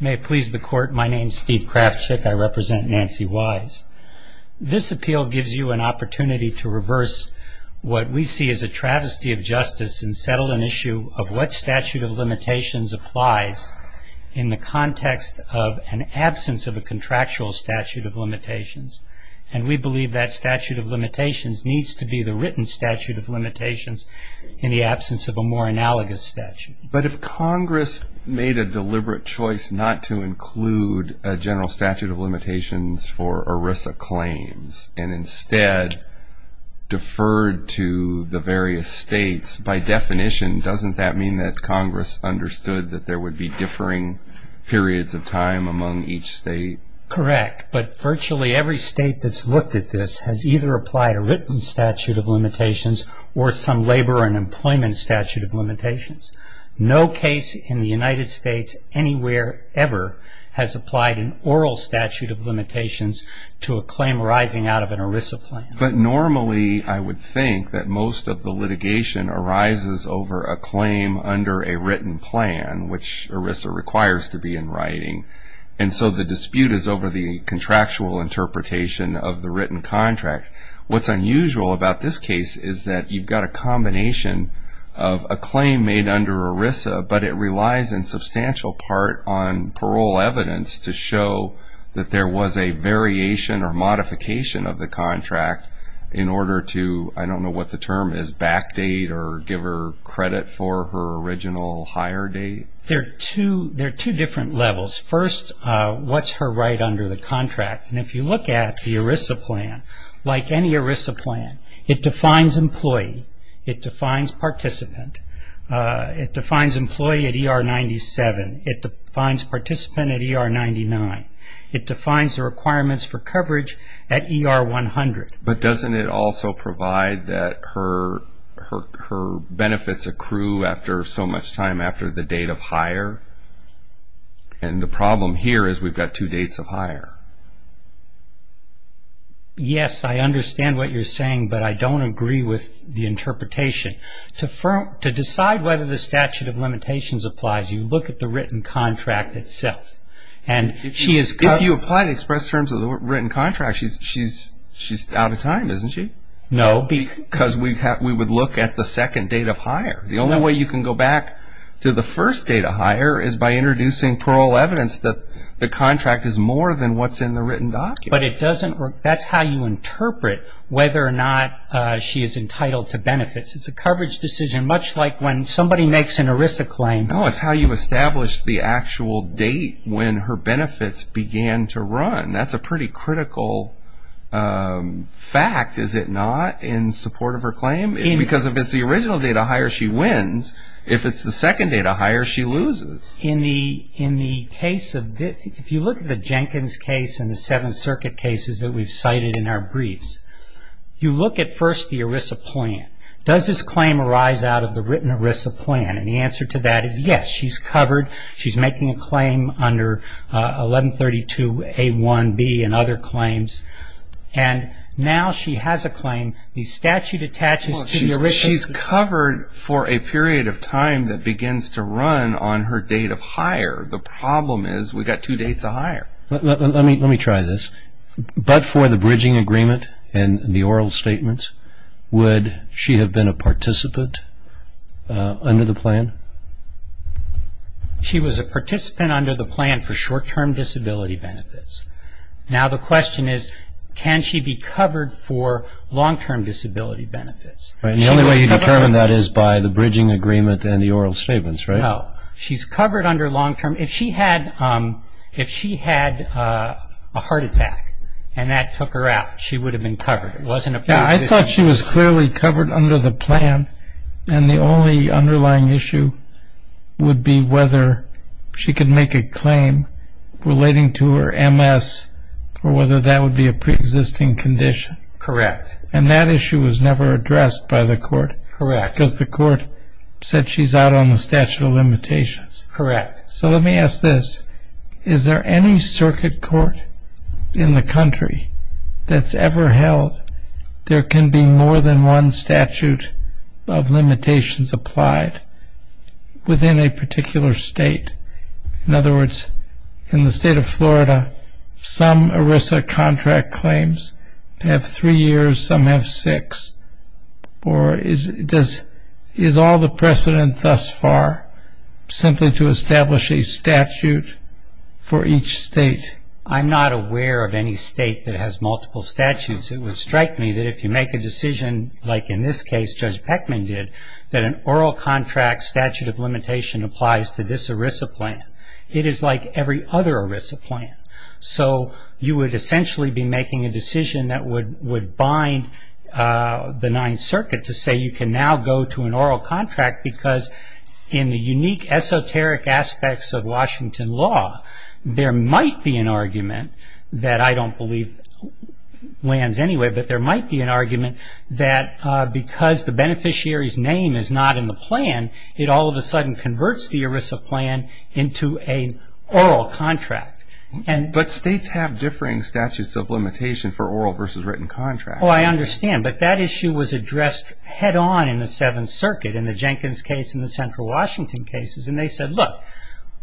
May it please the Court, my name is Steve Krafchick, I represent Nancy Wise. This appeal gives you an opportunity to reverse what we see as a travesty of justice and settle an issue of what statute of limitations applies in the context of an absence of a contractual statute of limitations. And we believe that statute of limitations needs to be the written statute of limitations in the absence of a more analogous statute. But if Congress made a deliberate choice not to include a general statute of limitations for ERISA claims and instead deferred to the various states, by definition doesn't that mean that Congress understood that there would be differing periods of time among each state? Correct, but virtually every state that's looked at this has either applied a written statute of limitations or some labor and employment statute of limitations. No case in the United States anywhere ever has applied an oral statute of limitations to a claim arising out of an ERISA plan. But normally I would think that most of the litigation arises over a claim under a written plan, which ERISA requires to be in writing. And so the dispute is over the contractual interpretation of the written contract. What's unusual about this case is that you've got a combination of a claim made under ERISA, but it relies in substantial part on parole evidence to show that there was a variation or modification of the contract in order to, I don't know what the term is, backdate or give her credit for her original hire date? There are two different levels. First, what's her right under the contract? And if you look at the ERISA plan, like any ERISA plan, it defines employee. It defines participant. It defines employee at ER 97. It defines participant at ER 99. It defines the requirements for coverage at ER 100. But doesn't it also provide that her benefits accrue after so much time after the date of hire? And the problem here is we've got two dates of hire. Yes, I understand what you're saying, but I don't agree with the interpretation. To decide whether the statute of limitations applies, you look at the written contract itself. If you apply the express terms of the written contract, she's out of time, isn't she? No. Because we would look at the second date of hire. The only way you can go back to the first date of hire is by introducing parole evidence that the contract is more than what's in the written document. But it doesn't work. That's how you interpret whether or not she is entitled to benefits. It's a coverage decision, much like when somebody makes an ERISA claim. No, it's how you establish the actual date when her benefits began to run. That's a pretty critical fact, is it not, in support of her claim? Because if it's the original date of hire, she wins. If it's the second date of hire, she loses. If you look at the Jenkins case and the Seventh Circuit cases that we've cited in our briefs, you look at first the ERISA plan. Does this claim arise out of the written ERISA plan? And the answer to that is yes, she's covered. She's making a claim under 1132A1B and other claims. And now she has a claim. She's covered for a period of time that begins to run on her date of hire. The problem is we've got two dates of hire. Let me try this. But for the bridging agreement and the oral statements, would she have been a participant under the plan? She was a participant under the plan for short-term disability benefits. Now the question is, can she be covered for long-term disability benefits? The only way you determine that is by the bridging agreement and the oral statements, right? No. She's covered under long-term. If she had a heart attack and that took her out, she would have been covered. I thought she was clearly covered under the plan, and the only underlying issue would be whether she could make a claim relating to her MS or whether that would be a preexisting condition. Correct. And that issue was never addressed by the court. Correct. Because the court said she's out on the statute of limitations. Correct. So let me ask this. Is there any circuit court in the country that's ever held there can be more than one statute of limitations applied within a particular state? In other words, in the state of Florida, some ERISA contract claims have three years, some have six. Or is all the precedent thus far simply to establish a statute for each state? I'm not aware of any state that has multiple statutes. It would strike me that if you make a decision like in this case Judge Peckman did, that an oral contract statute of limitation applies to this ERISA plan. It is like every other ERISA plan. So you would essentially be making a decision that would bind the Ninth Circuit to say you can now go to an oral contract because in the unique esoteric aspects of Washington law, there might be an argument that I don't believe lands anyway, but there might be an argument that because the beneficiary's name is not in the plan, it all of a sudden converts the ERISA plan into an oral contract. But states have differing statutes of limitation for oral versus written contracts. Oh, I understand. But that issue was addressed head on in the Seventh Circuit in the Jenkins case and the Central Washington cases, and they said, look,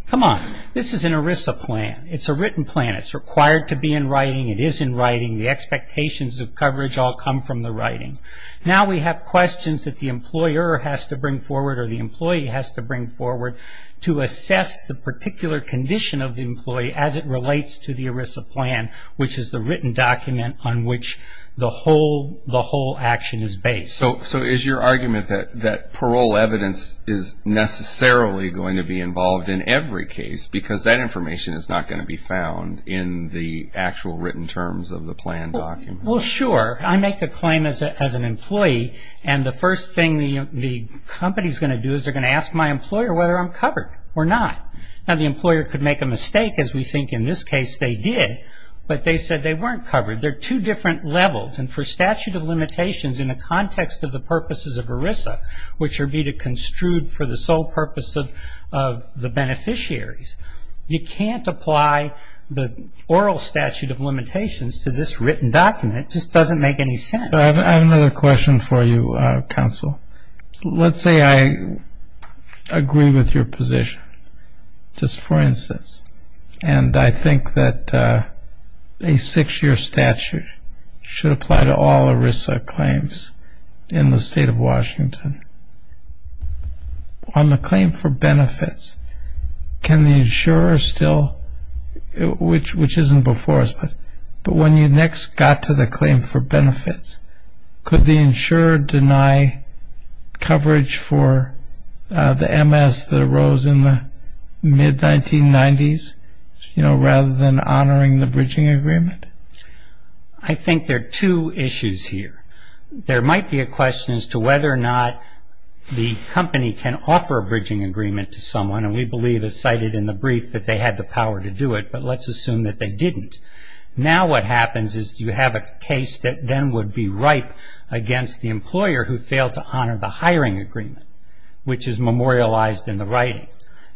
come on, this is an ERISA plan. It's a written plan. It's required to be in writing. It is in writing. The expectations of coverage all come from the writing. Now we have questions that the employer has to bring forward or the employee has to bring forward to assess the particular condition of the employee as it relates to the ERISA plan, which is the written document on which the whole action is based. So is your argument that parole evidence is necessarily going to be involved in every case because that information is not going to be found in the actual written terms of the plan document? Well, sure. I make the claim as an employee, and the first thing the company's going to do is they're going to ask my employer whether I'm covered or not. Now the employer could make a mistake, as we think in this case they did, but they said they weren't covered. They're two different levels. And for statute of limitations in the context of the purposes of ERISA, which would be to construed for the sole purpose of the beneficiaries, you can't apply the oral statute of limitations to this written document. It just doesn't make any sense. I have another question for you, counsel. Let's say I agree with your position, just for instance, and I think that a six-year statute should apply to all ERISA claims in the state of Washington. On the claim for benefits, can the insurer still, which isn't before us, but when you next got to the claim for benefits, could the insurer deny coverage for the MS that arose in the mid-1990s, you know, rather than honoring the bridging agreement? I think there are two issues here. There might be a question as to whether or not the company can offer a bridging agreement to someone, and we believe, as cited in the brief, that they had the power to do it, but let's assume that they didn't. Now what happens is you have a case that then would be ripe against the employer who failed to honor the hiring agreement, which is memorialized in the writing,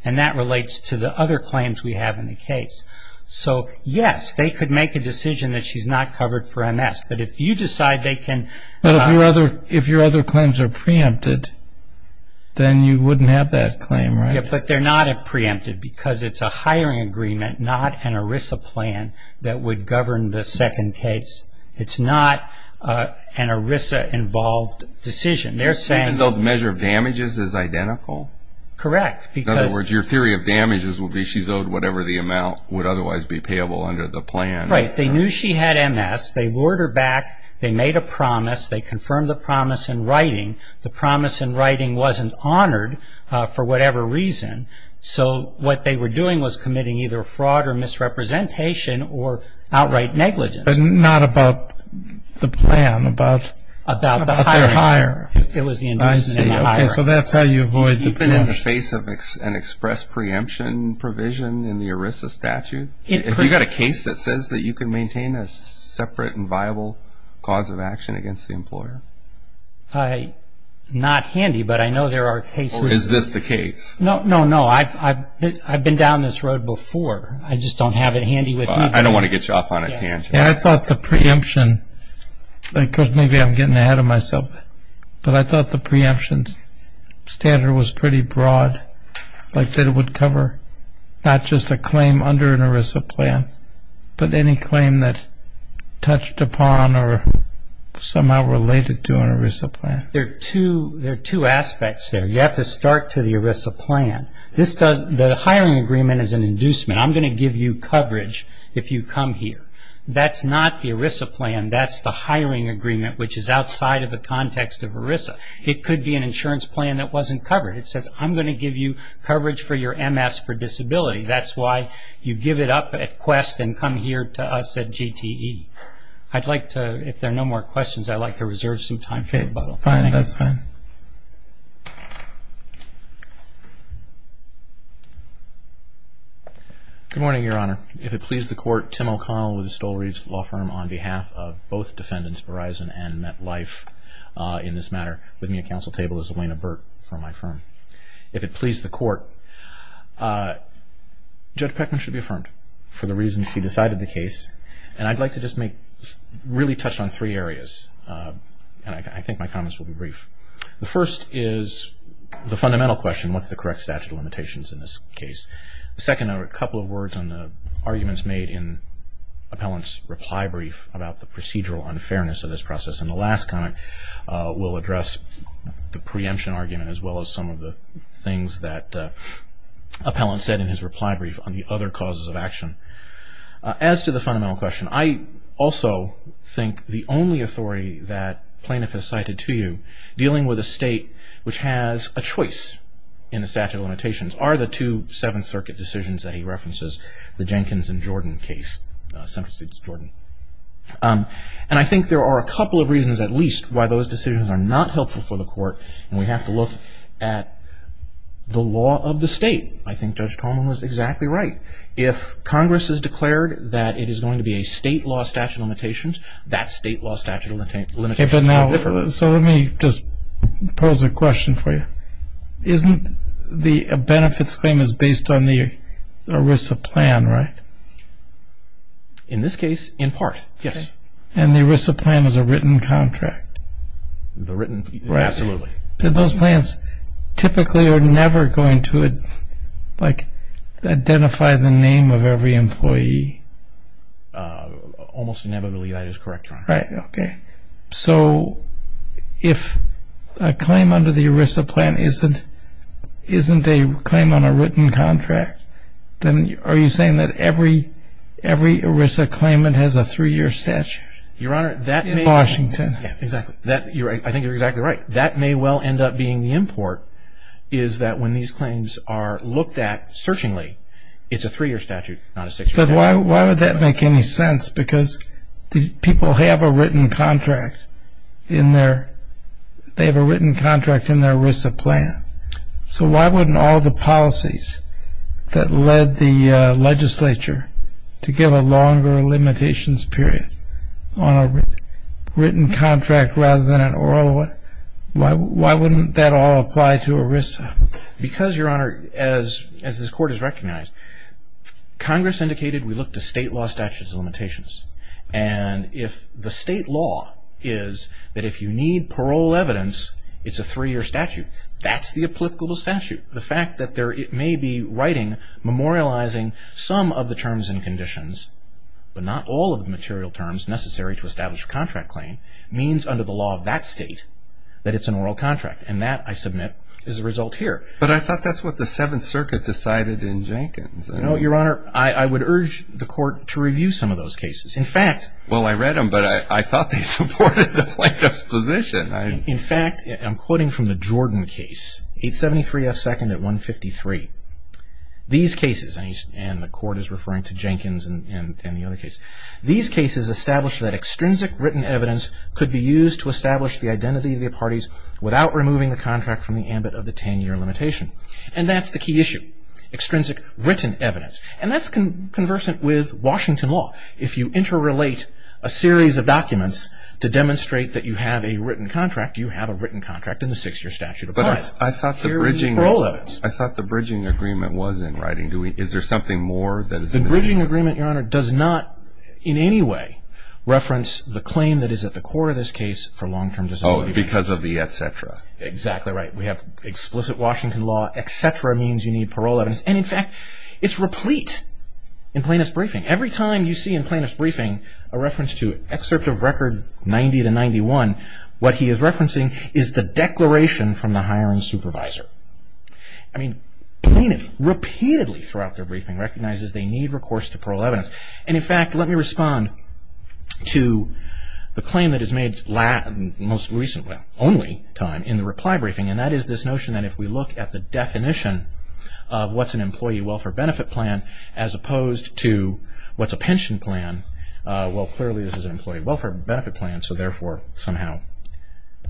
and that relates to the other claims we have in the case. So, yes, they could make a decision that she's not covered for MS, but if you decide they can. But if your other claims are preempted, then you wouldn't have that claim, right? But they're not preempted because it's a hiring agreement, not an ERISA plan that would govern the second case. It's not an ERISA-involved decision. Even though the measure of damages is identical? Correct. In other words, your theory of damages would be she's owed whatever the amount would otherwise be payable under the plan. Right. They knew she had MS. They lured her back. They made a promise. They confirmed the promise in writing. The promise in writing wasn't honored for whatever reason, so what they were doing was committing either fraud or misrepresentation or outright negligence. But not about the plan, about the hire. About the hiring. I see. Okay, so that's how you avoid the penalty. Have you been in the face of an express preemption provision in the ERISA statute? Have you got a case that says that you can maintain a separate and viable cause of action against the employer? Not handy, but I know there are cases. Or is this the case? No, no, no. I've been down this road before. I just don't have it handy with me. I don't want to get you off on a tangent. I thought the preemption, because maybe I'm getting ahead of myself, but I thought the preemption standard was pretty broad, like that it would cover not just a claim under an ERISA plan, but any claim that touched upon or somehow related to an ERISA plan. There are two aspects there. You have to start to the ERISA plan. The hiring agreement is an inducement. I'm going to give you coverage if you come here. That's not the ERISA plan. That's the hiring agreement, which is outside of the context of ERISA. It could be an insurance plan that wasn't covered. It says, I'm going to give you coverage for your MS for disability. That's why you give it up at Quest and come here to us at GTE. I'd like to, if there are no more questions, I'd like to reserve some time for rebuttal. Okay, fine. That's fine. Good morning, Your Honor. If it please the Court, Tim O'Connell with the Stoll-Reeds Law Firm, on behalf of both defendants, Verizon and MetLife, in this matter, with me at counsel table is Elena Burt from my firm. If it please the Court, Judge Peckman should be affirmed for the reasons she decided the case. I'd like to just really touch on three areas. I think my comments will be brief. The first is the fundamental question, what's the correct statute of limitations in this case? The second are a couple of words on the arguments made in appellant's reply brief about the procedural unfairness of this process. And the last comment will address the preemption argument as well as some of the things that appellant said in his reply brief on the other causes of action. As to the fundamental question, I also think the only authority that plaintiff has cited to you, dealing with a state which has a choice in the statute of limitations, are the two Seventh Circuit decisions that he references, the Jenkins and Jordan case, and I think there are a couple of reasons at least why those decisions are not helpful for the Court and we have to look at the law of the state. I think Judge Coleman was exactly right. If Congress has declared that it is going to be a state law statute of limitations, that state law statute of limitations will differ. So let me just pose a question for you. Isn't the benefits claim is based on the ERISA plan, right? In this case, in part, yes. And the ERISA plan is a written contract? Absolutely. Those plans typically are never going to identify the name of every employee? Almost inevitably that is correct, Your Honor. Right, okay. So if a claim under the ERISA plan isn't a claim on a written contract, then are you saying that every ERISA claimant has a three-year statute in Washington? Yes, exactly. I think you're exactly right. That may well end up being the import is that when these claims are looked at searchingly, But why would that make any sense? Because people have a written contract in their ERISA plan. So why wouldn't all the policies that led the legislature to give a longer limitations period on a written contract rather than an oral one, why wouldn't that all apply to ERISA? Because, Your Honor, as this Court has recognized, Congress indicated we look to state law statutes of limitations. And if the state law is that if you need parole evidence, it's a three-year statute, that's the applicable statute. The fact that it may be writing, memorializing some of the terms and conditions, but not all of the material terms necessary to establish a contract claim, means under the law of that state that it's an oral contract. And that, I submit, is the result here. But I thought that's what the Seventh Circuit decided in Jenkins. No, Your Honor, I would urge the Court to review some of those cases. In fact, Well, I read them, but I thought they supported the plaintiff's position. In fact, I'm quoting from the Jordan case, 873 F. 2nd at 153. These cases, and the Court is referring to Jenkins and the other case, these cases establish that extrinsic written evidence could be used to establish the identity of the parties without removing the contract from the ambit of the 10-year limitation. And that's the key issue, extrinsic written evidence. And that's conversant with Washington law. If you interrelate a series of documents to demonstrate that you have a written contract, you have a written contract, and the six-year statute applies. But I thought the bridging agreement was in writing. Is there something more that is missing? The bridging agreement, Your Honor, does not in any way reference the claim that is at the core of this case for long-term disability. Oh, because of the et cetera. Exactly right. We have explicit Washington law. Et cetera means you need parole evidence. And in fact, it's replete in plaintiff's briefing. Every time you see in plaintiff's briefing a reference to Excerpt of Record 90-91, what he is referencing is the declaration from the hiring supervisor. I mean, plaintiff repeatedly throughout their briefing recognizes they need recourse to parole evidence. And in fact, let me respond to the claim that is made most recently, only time, in the reply briefing, and that is this notion that if we look at the definition of what's an employee welfare benefit plan as opposed to what's a pension plan, well, clearly this is an employee welfare benefit plan, so therefore somehow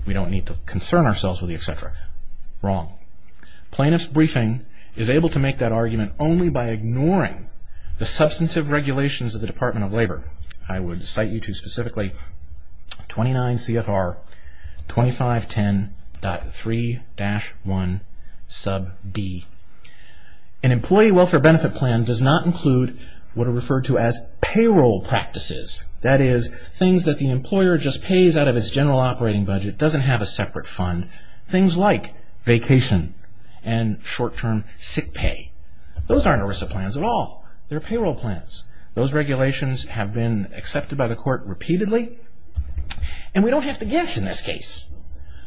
we don't need to concern ourselves with the et cetera. Wrong. Plaintiff's briefing is able to make that argument only by ignoring the substantive regulations of the Department of Labor. I would cite you to specifically 29 CFR 2510.3-1 sub d. An employee welfare benefit plan does not include what are referred to as payroll practices. That is, things that the employer just pays out of its general operating budget, doesn't have a separate fund. Things like vacation and short-term sick pay. Those aren't ERISA plans at all. They're payroll plans. Those regulations have been accepted by the court repeatedly. And we don't have to guess in this case.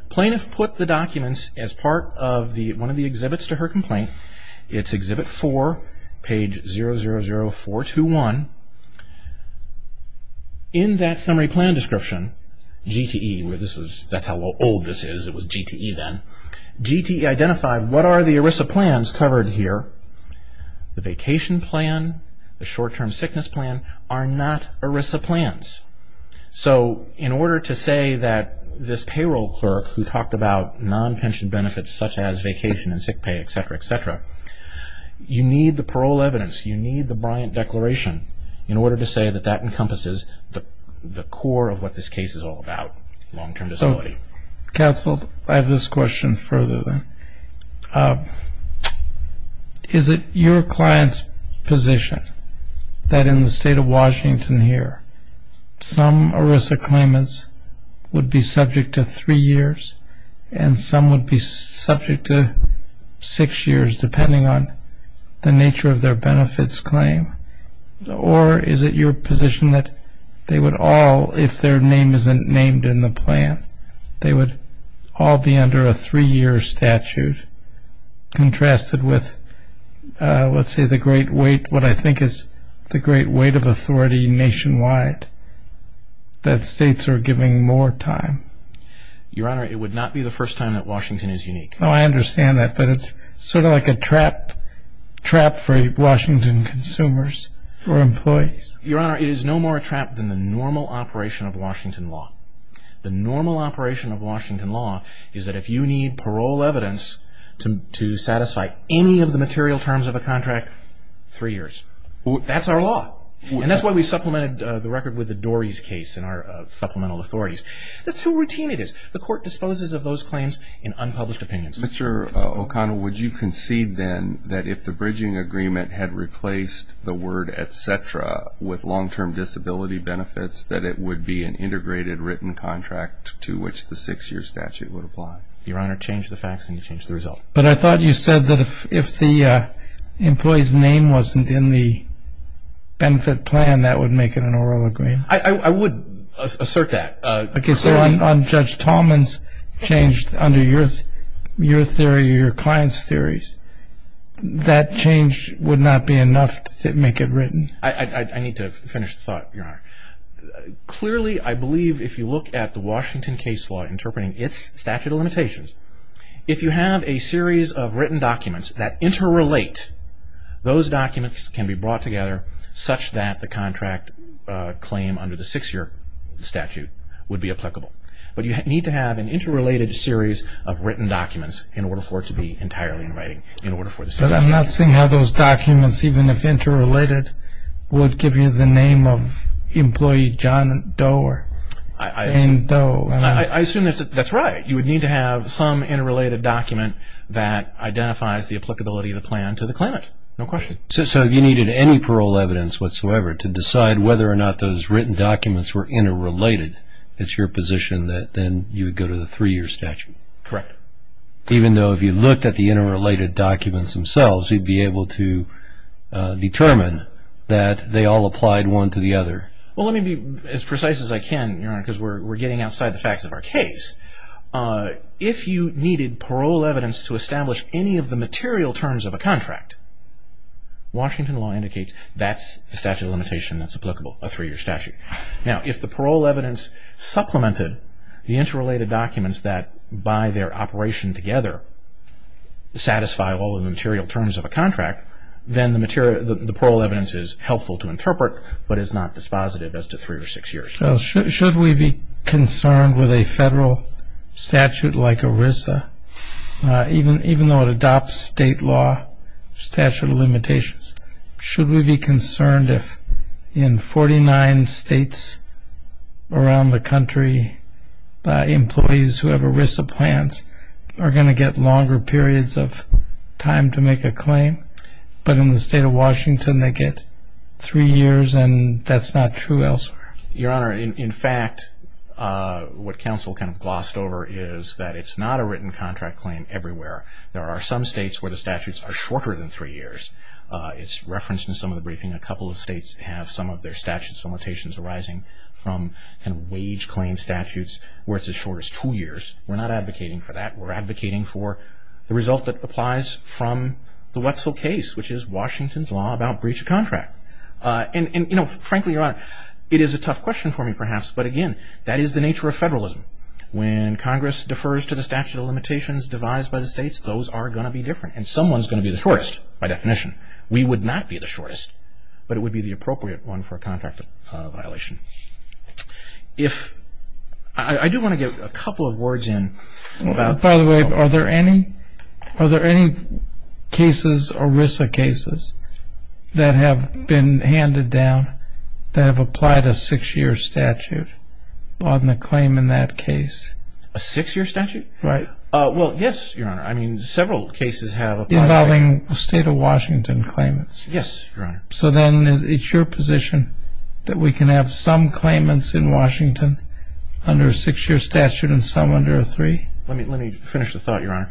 Plaintiff put the documents as part of one of the exhibits to her complaint. It's Exhibit 4, page 000421. In that summary plan description, GTE, that's how old this is, it was GTE then, GTE identified what are the ERISA plans covered here. The vacation plan, the short-term sickness plan are not ERISA plans. So in order to say that this payroll clerk who talked about non-pension benefits such as vacation and sick pay, et cetera, et cetera, you need the parole evidence. You need the Bryant Declaration. In order to say that that encompasses the core of what this case is all about, long-term disability. Counsel, I have this question further then. Is it your client's position that in the state of Washington here, some ERISA claimants would be subject to three years and some would be subject to six years depending on the nature of their benefits claim? Or is it your position that they would all, if their name isn't named in the plan, they would all be under a three-year statute contrasted with, let's say, the great weight, what I think is the great weight of authority nationwide, that states are giving more time? Your Honor, it would not be the first time that Washington is unique. Oh, I understand that. But it's sort of like a trap for Washington consumers or employees. Your Honor, it is no more a trap than the normal operation of Washington law. The normal operation of Washington law is that if you need parole evidence to satisfy any of the material terms of a contract, three years. That's our law. And that's why we supplemented the record with the Dory's case in our supplemental authorities. That's how routine it is. The Court disposes of those claims in unpublished opinions. Mr. O'Connell, would you concede then that if the bridging agreement had replaced the word et cetera with long-term disability benefits, that it would be an integrated written contract to which the six-year statute would apply? Your Honor, change the facts and you change the result. But I thought you said that if the employee's name wasn't in the benefit plan, that would make it an oral agreement. I would assert that. Okay. So on Judge Tallman's change under your client's theories, that change would not be enough to make it written? I need to finish the thought, Your Honor. Clearly, I believe if you look at the Washington case law interpreting its statute of limitations, if you have a series of written documents that interrelate, those documents can be brought together such that the contract claim under the six-year statute would be applicable. But you need to have an interrelated series of written documents in order for it to be entirely in writing. But I'm not seeing how those documents, even if interrelated, would give you the name of employee John Doe or Jane Doe. I assume that's right. You would need to have some interrelated document that identifies the applicability of the plan to the claimant. No question. So if you needed any parole evidence whatsoever to decide whether or not those written documents were interrelated, it's your position that then you would go to the three-year statute? Correct. Even though if you looked at the interrelated documents themselves, you'd be able to determine that they all applied one to the other? Well, let me be as precise as I can, Your Honor, because we're getting outside the facts of our case. If you needed parole evidence to establish any of the material terms of a contract, Washington law indicates that's the statute of limitation that's applicable, a three-year statute. Now, if the parole evidence supplemented the interrelated documents that, by their operation together, satisfy all of the material terms of a contract, then the parole evidence is helpful to interpret but is not dispositive as to three or six years. Well, should we be concerned with a federal statute like ERISA, even though it adopts state law, statute of limitations, should we be concerned if in 49 states around the country, employees who have ERISA plans are going to get longer periods of time to make a claim, but in the state of Washington, they get three years and that's not true elsewhere? Your Honor, in fact, what counsel kind of glossed over is that it's not a written contract claim everywhere. There are some states where the statutes are shorter than three years. It's referenced in some of the briefing. A couple of states have some of their statutes of limitations arising from kind of wage claim statutes where it's as short as two years. We're not advocating for that. We're advocating for the result that applies from the Wetzel case, which is Washington's law about breach of contract. And frankly, Your Honor, it is a tough question for me perhaps, but again, that is the nature of federalism. When Congress defers to the statute of limitations devised by the states, those are going to be different and someone's going to be the shortest by definition. We would not be the shortest, but it would be the appropriate one for a contract violation. I do want to get a couple of words in. By the way, are there any cases, ERISA cases, that have been handed down that have applied a six-year statute on the claim in that case? A six-year statute? Right. Well, yes, Your Honor. I mean, several cases have applied. Involving the state of Washington claimants. Yes, Your Honor. So then it's your position that we can have some claimants in Washington under a six-year statute and some under a three? Let me finish the thought, Your Honor.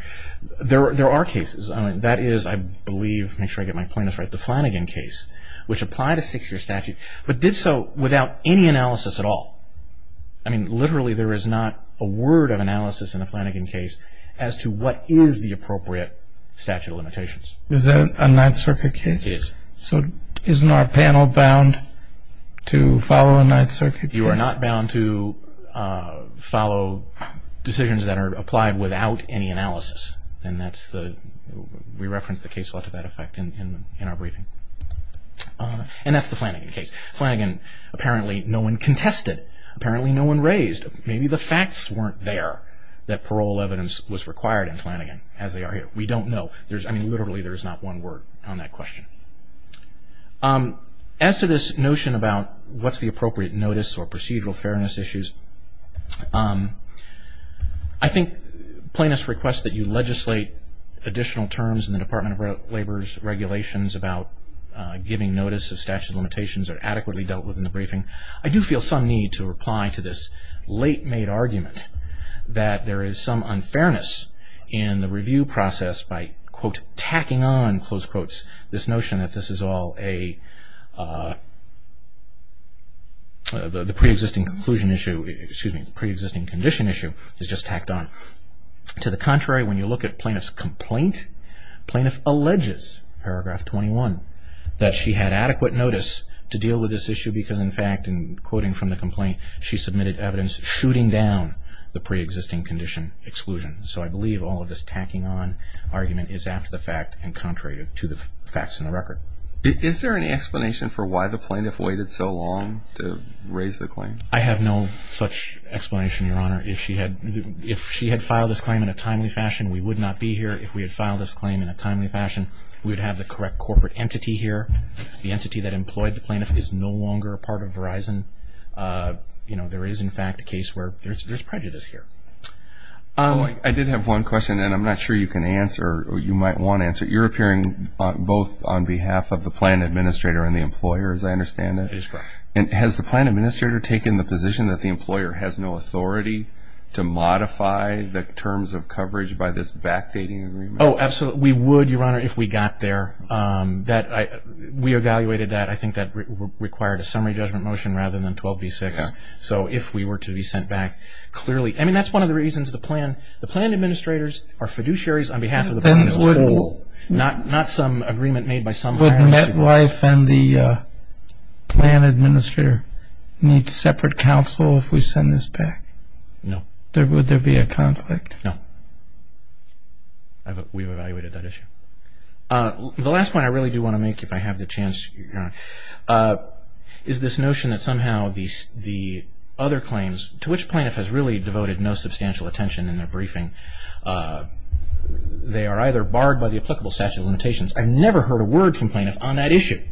There are cases. That is, I believe, make sure I get my point as right, the Flanagan case, which applied a six-year statute but did so without any analysis at all. I mean, literally there is not a word of analysis in the Flanagan case as to what is the appropriate statute of limitations. Is that a Ninth Circuit case? It is. So isn't our panel bound to follow a Ninth Circuit case? You are not bound to follow decisions that are applied without any analysis. And that's the – we reference the case a lot to that effect in our briefing. And that's the Flanagan case. Flanagan, apparently no one contested. Apparently no one raised. Maybe the facts weren't there that parole evidence was required in Flanagan as they are here. We don't know. I mean, literally there is not one word on that question. As to this notion about what's the appropriate notice or procedural fairness issues, I think plaintiff's request that you legislate additional terms in the Department of Labor's regulations about giving notice of statute of limitations are adequately dealt with in the briefing. I do feel some need to reply to this late-made argument that there is some unfairness in the review process by, quote, tacking on, close quotes, this notion that this is all a – the pre-existing conclusion issue, excuse me, the pre-existing condition issue is just tacked on. To the contrary, when you look at plaintiff's complaint, plaintiff alleges, paragraph 21, that she had adequate notice to deal with this issue because, in fact, in quoting from the complaint, she submitted evidence shooting down the pre-existing condition exclusion. So I believe all of this tacking on argument is after the fact and contrary to the facts in the record. Is there any explanation for why the plaintiff waited so long to raise the claim? I have no such explanation, Your Honor. If she had filed this claim in a timely fashion, we would not be here. If we had filed this claim in a timely fashion, we would have the correct corporate entity here. The entity that employed the plaintiff is no longer a part of Verizon. You know, there is, in fact, a case where there's prejudice here. I did have one question, and I'm not sure you can answer or you might want to answer it. You're appearing both on behalf of the plan administrator and the employer, as I understand it. That is correct. Has the plan administrator taken the position that the employer has no authority to modify the terms of coverage by this backdating agreement? Oh, absolutely. We would, Your Honor, if we got there. We evaluated that. I think that required a summary judgment motion rather than 12B-6. So if we were to be sent back, clearly. I mean, that's one of the reasons the plan administrators are fiduciaries on behalf of the plan administrator. Not some agreement made by some higher officials. Would MetLife and the plan administrator need separate counsel if we send this back? No. Would there be a conflict? No. We've evaluated that issue. The last point I really do want to make, if I have the chance, Your Honor, is this notion that somehow the other claims to which plaintiff has really devoted no substantial attention in their briefing, they are either barred by the applicable statute of limitations. I've never heard a word from plaintiff on that issue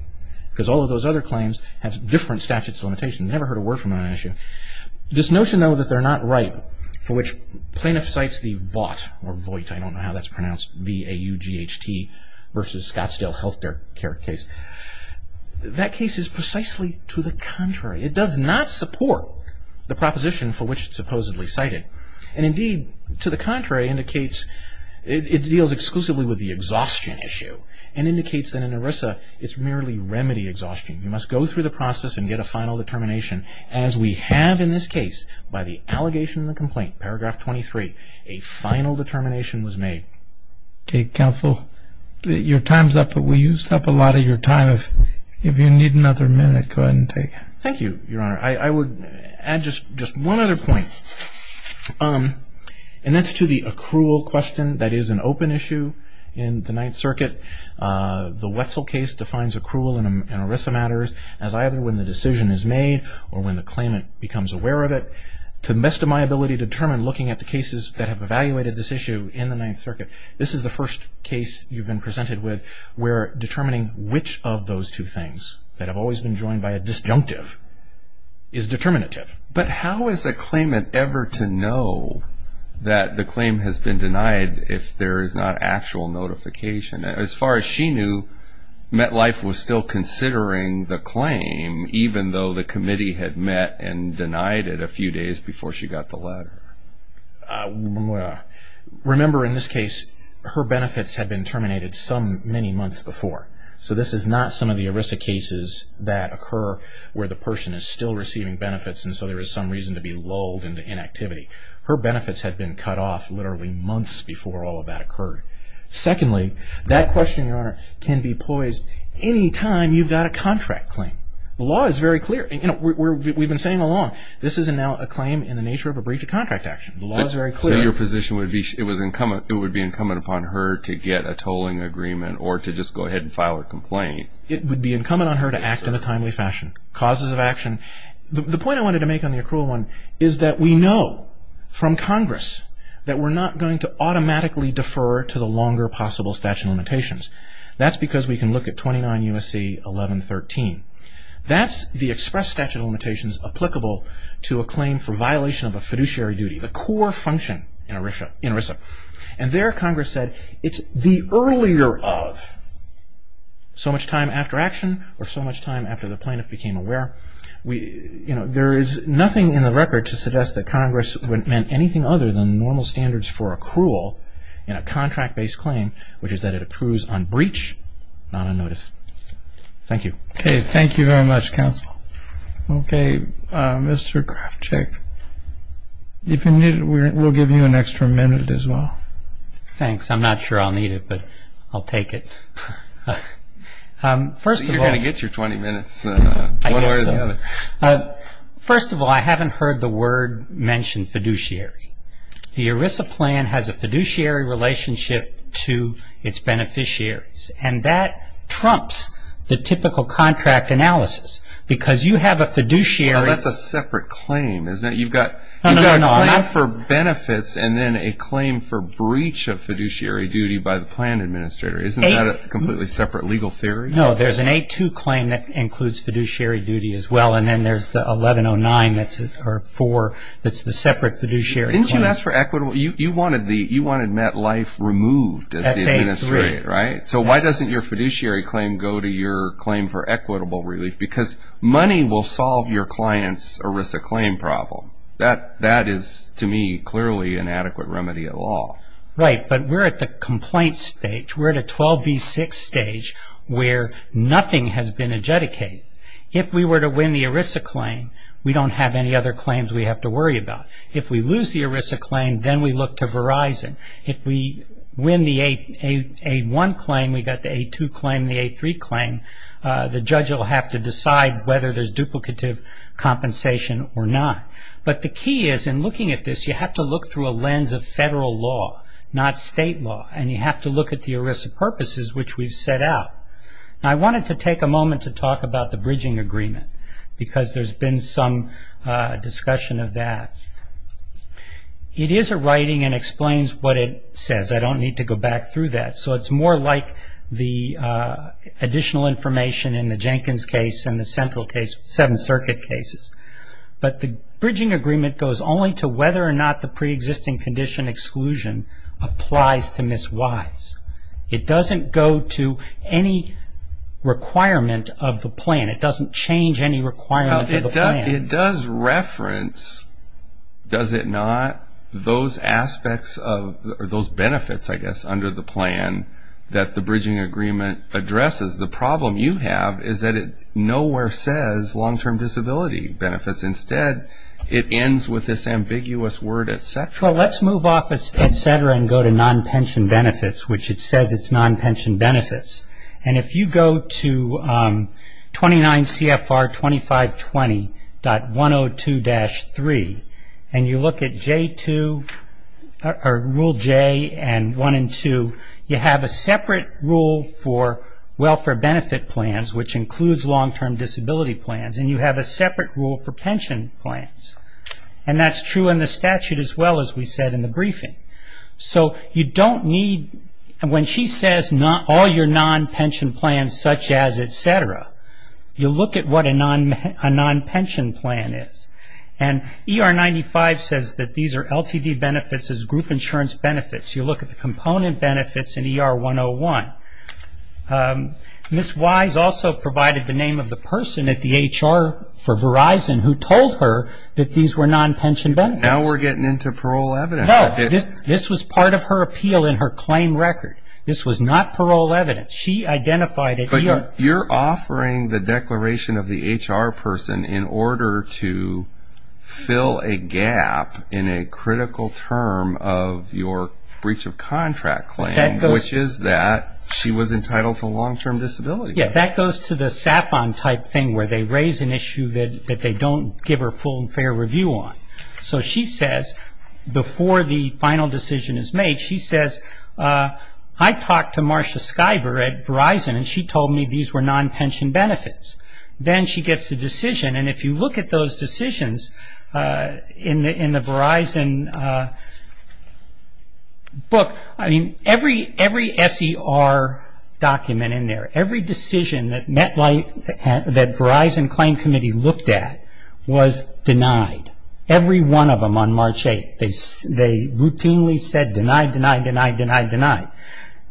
because all of those other claims have different statutes of limitations. I've never heard a word from them on that issue. This notion, though, that they're not right, for which plaintiff cites the VAUGHT, I don't know how that's pronounced, V-A-U-G-H-T, versus Scottsdale Health Care case, that case is precisely to the contrary. It does not support the proposition for which it's supposedly cited. And, indeed, to the contrary, it deals exclusively with the exhaustion issue and indicates that in ERISA it's merely remedy exhaustion. You must go through the process and get a final determination. As we have in this case, by the allegation and the complaint, paragraph 23, a final determination was made. Okay, counsel. Your time's up, but we used up a lot of your time. If you need another minute, go ahead and take it. Thank you, Your Honor. I would add just one other point, and that's to the accrual question. That is an open issue in the Ninth Circuit. The Wetzel case defines accrual in ERISA matters as either when the decision is made or when the claimant becomes aware of it. To the best of my ability to determine looking at the cases that have evaluated this issue in the Ninth Circuit, this is the first case you've been presented with where determining which of those two things that have always been joined by a disjunctive is determinative. But how is a claimant ever to know that the claim has been denied if there is not actual notification? As far as she knew, MetLife was still considering the claim, even though the committee had met and denied it a few days before she got the letter. Remember, in this case, her benefits had been terminated many months before. So this is not some of the ERISA cases that occur where the person is still receiving benefits and so there is some reason to be lulled into inactivity. Her benefits had been cut off literally months before all of that occurred. Secondly, that question, Your Honor, can be poised any time you've got a contract claim. The law is very clear. We've been saying all along, this is now a claim in the nature of a breach of contract action. The law is very clear. So your position would be it would be incumbent upon her to get a tolling agreement or to just go ahead and file a complaint? It would be incumbent on her to act in a timely fashion. Causes of action. The point I wanted to make on the accrual one is that we know from Congress that we're not going to automatically defer to the longer possible statute of limitations. That's because we can look at 29 U.S.C. 1113. That's the express statute of limitations applicable to a claim for violation of a fiduciary duty, the core function in ERISA. And there Congress said it's the earlier of. So much time after action or so much time after the plaintiff became aware. There is nothing in the record to suggest that Congress meant anything other than normal standards for accrual in a contract-based claim, which is that it accrues on breach, not on notice. Thank you. Okay. Thank you very much, counsel. Okay. Mr. Krafchick, if you need, we'll give you an extra minute as well. Thanks. I'm not sure I'll need it, but I'll take it. First of all. You're going to get your 20 minutes. I guess so. One or the other. First of all, I haven't heard the word mentioned fiduciary. The ERISA plan has a fiduciary relationship to its beneficiaries, and that trumps the typical contract analysis because you have a fiduciary. Well, that's a separate claim, isn't it? You've got a claim for benefits and then a claim for breach of fiduciary duty by the plan administrator. Isn't that a completely separate legal theory? No, there's an 8-2 claim that includes fiduciary duty as well, and then there's the 11-09 that's the separate fiduciary claim. Didn't you ask for equitable? You want to admit life removed as the administrator, right? That's 8-3. So why doesn't your fiduciary claim go to your claim for equitable relief? Because money will solve your client's ERISA claim problem. That is, to me, clearly an adequate remedy of law. Right, but we're at the complaint stage. We're at a 12-B-6 stage where nothing has been adjudicated. If we were to win the ERISA claim, we don't have any other claims we have to worry about. If we lose the ERISA claim, then we look to Verizon. If we win the 8-1 claim, we've got the 8-2 claim, the 8-3 claim, the judge will have to decide whether there's duplicative compensation or not. But the key is, in looking at this, you have to look through a lens of federal law, not state law, and you have to look at the ERISA purposes which we've set out. Now, I wanted to take a moment to talk about the bridging agreement because there's been some discussion of that. It is a writing and explains what it says. I don't need to go back through that. So it's more like the additional information in the Jenkins case and the central case, seven circuit cases. But the bridging agreement goes only to whether or not the preexisting condition exclusion applies to Ms. Wise. It doesn't go to any requirement of the plan. It doesn't change any requirement of the plan. It does reference, does it not, those aspects of those benefits, I guess, under the plan that the bridging agreement addresses. The problem you have is that it nowhere says long-term disability benefits. Instead, it ends with this ambiguous word, et cetera. Well, let's move off of et cetera and go to non-pension benefits, which it says it's non-pension benefits. And if you go to 29 CFR 2520.102-3 and you look at J2 or Rule J and 1 and 2, you have a separate rule for welfare benefit plans, which includes long-term disability plans, and you have a separate rule for pension plans. And that's true in the statute as well as we said in the briefing. So you don't need, when she says all your non-pension plans such as et cetera, you look at what a non-pension plan is. And ER 95 says that these are LTD benefits as group insurance benefits. You look at the component benefits in ER 101. Ms. Wise also provided the name of the person at the HR for Verizon who told her that these were non-pension benefits. Now we're getting into parole evidence. This was part of her appeal in her claim record. This was not parole evidence. She identified it. But you're offering the declaration of the HR person in order to fill a gap in a critical term of your breach of contract claim, which is that she was entitled to a long-term disability plan. Yeah, that goes to the SAFON type thing where they raise an issue that they don't give her full and fair review on. So she says, before the final decision is made, she says, I talked to Marcia Skyver at Verizon and she told me these were non-pension benefits. Then she gets a decision, and if you look at those decisions in the Verizon book, I mean, every SER document in there, every decision that Verizon claim committee looked at was denied, every one of them on March 8th. They routinely said denied, denied, denied, denied, denied.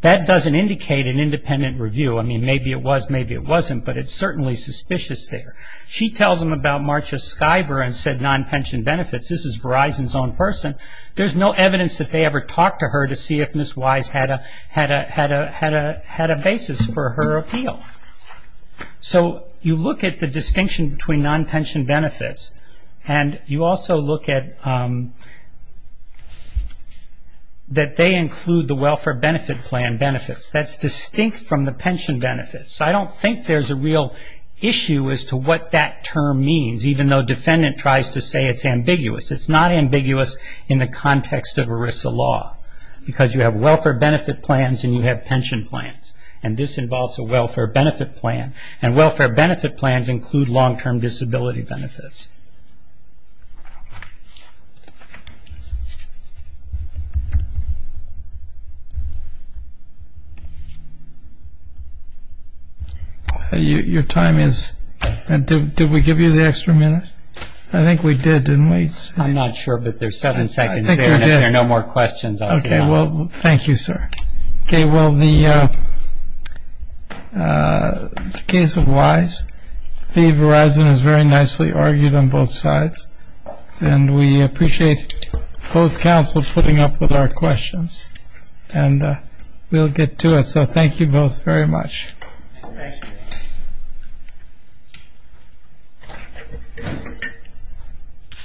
That doesn't indicate an independent review. I mean, maybe it was, maybe it wasn't, but it's certainly suspicious there. She tells them about Marcia Skyver and said non-pension benefits. This is Verizon's own person. There's no evidence that they ever talked to her to see if Ms. Wise had a basis for her appeal. So you look at the distinction between non-pension benefits, and you also look at that they include the welfare benefit plan benefits. That's distinct from the pension benefits. I don't think there's a real issue as to what that term means, even though defendant tries to say it's ambiguous. It's not ambiguous in the context of ERISA law because you have welfare benefit plans and you have pension plans, and this involves a welfare benefit plan, and welfare benefit plans include long-term disability benefits. Your time is, did we give you the extra minute? I think we did, didn't we? I'm not sure, but there's seven seconds there, and if there are no more questions, I'll sit down. Okay, well, thank you, sir. Okay, well, the case of Wise, I think Verizon has very nicely argued on both sides, and we appreciate both counsels putting up with our questions, and we'll get to it. So thank you both very much. Thank you.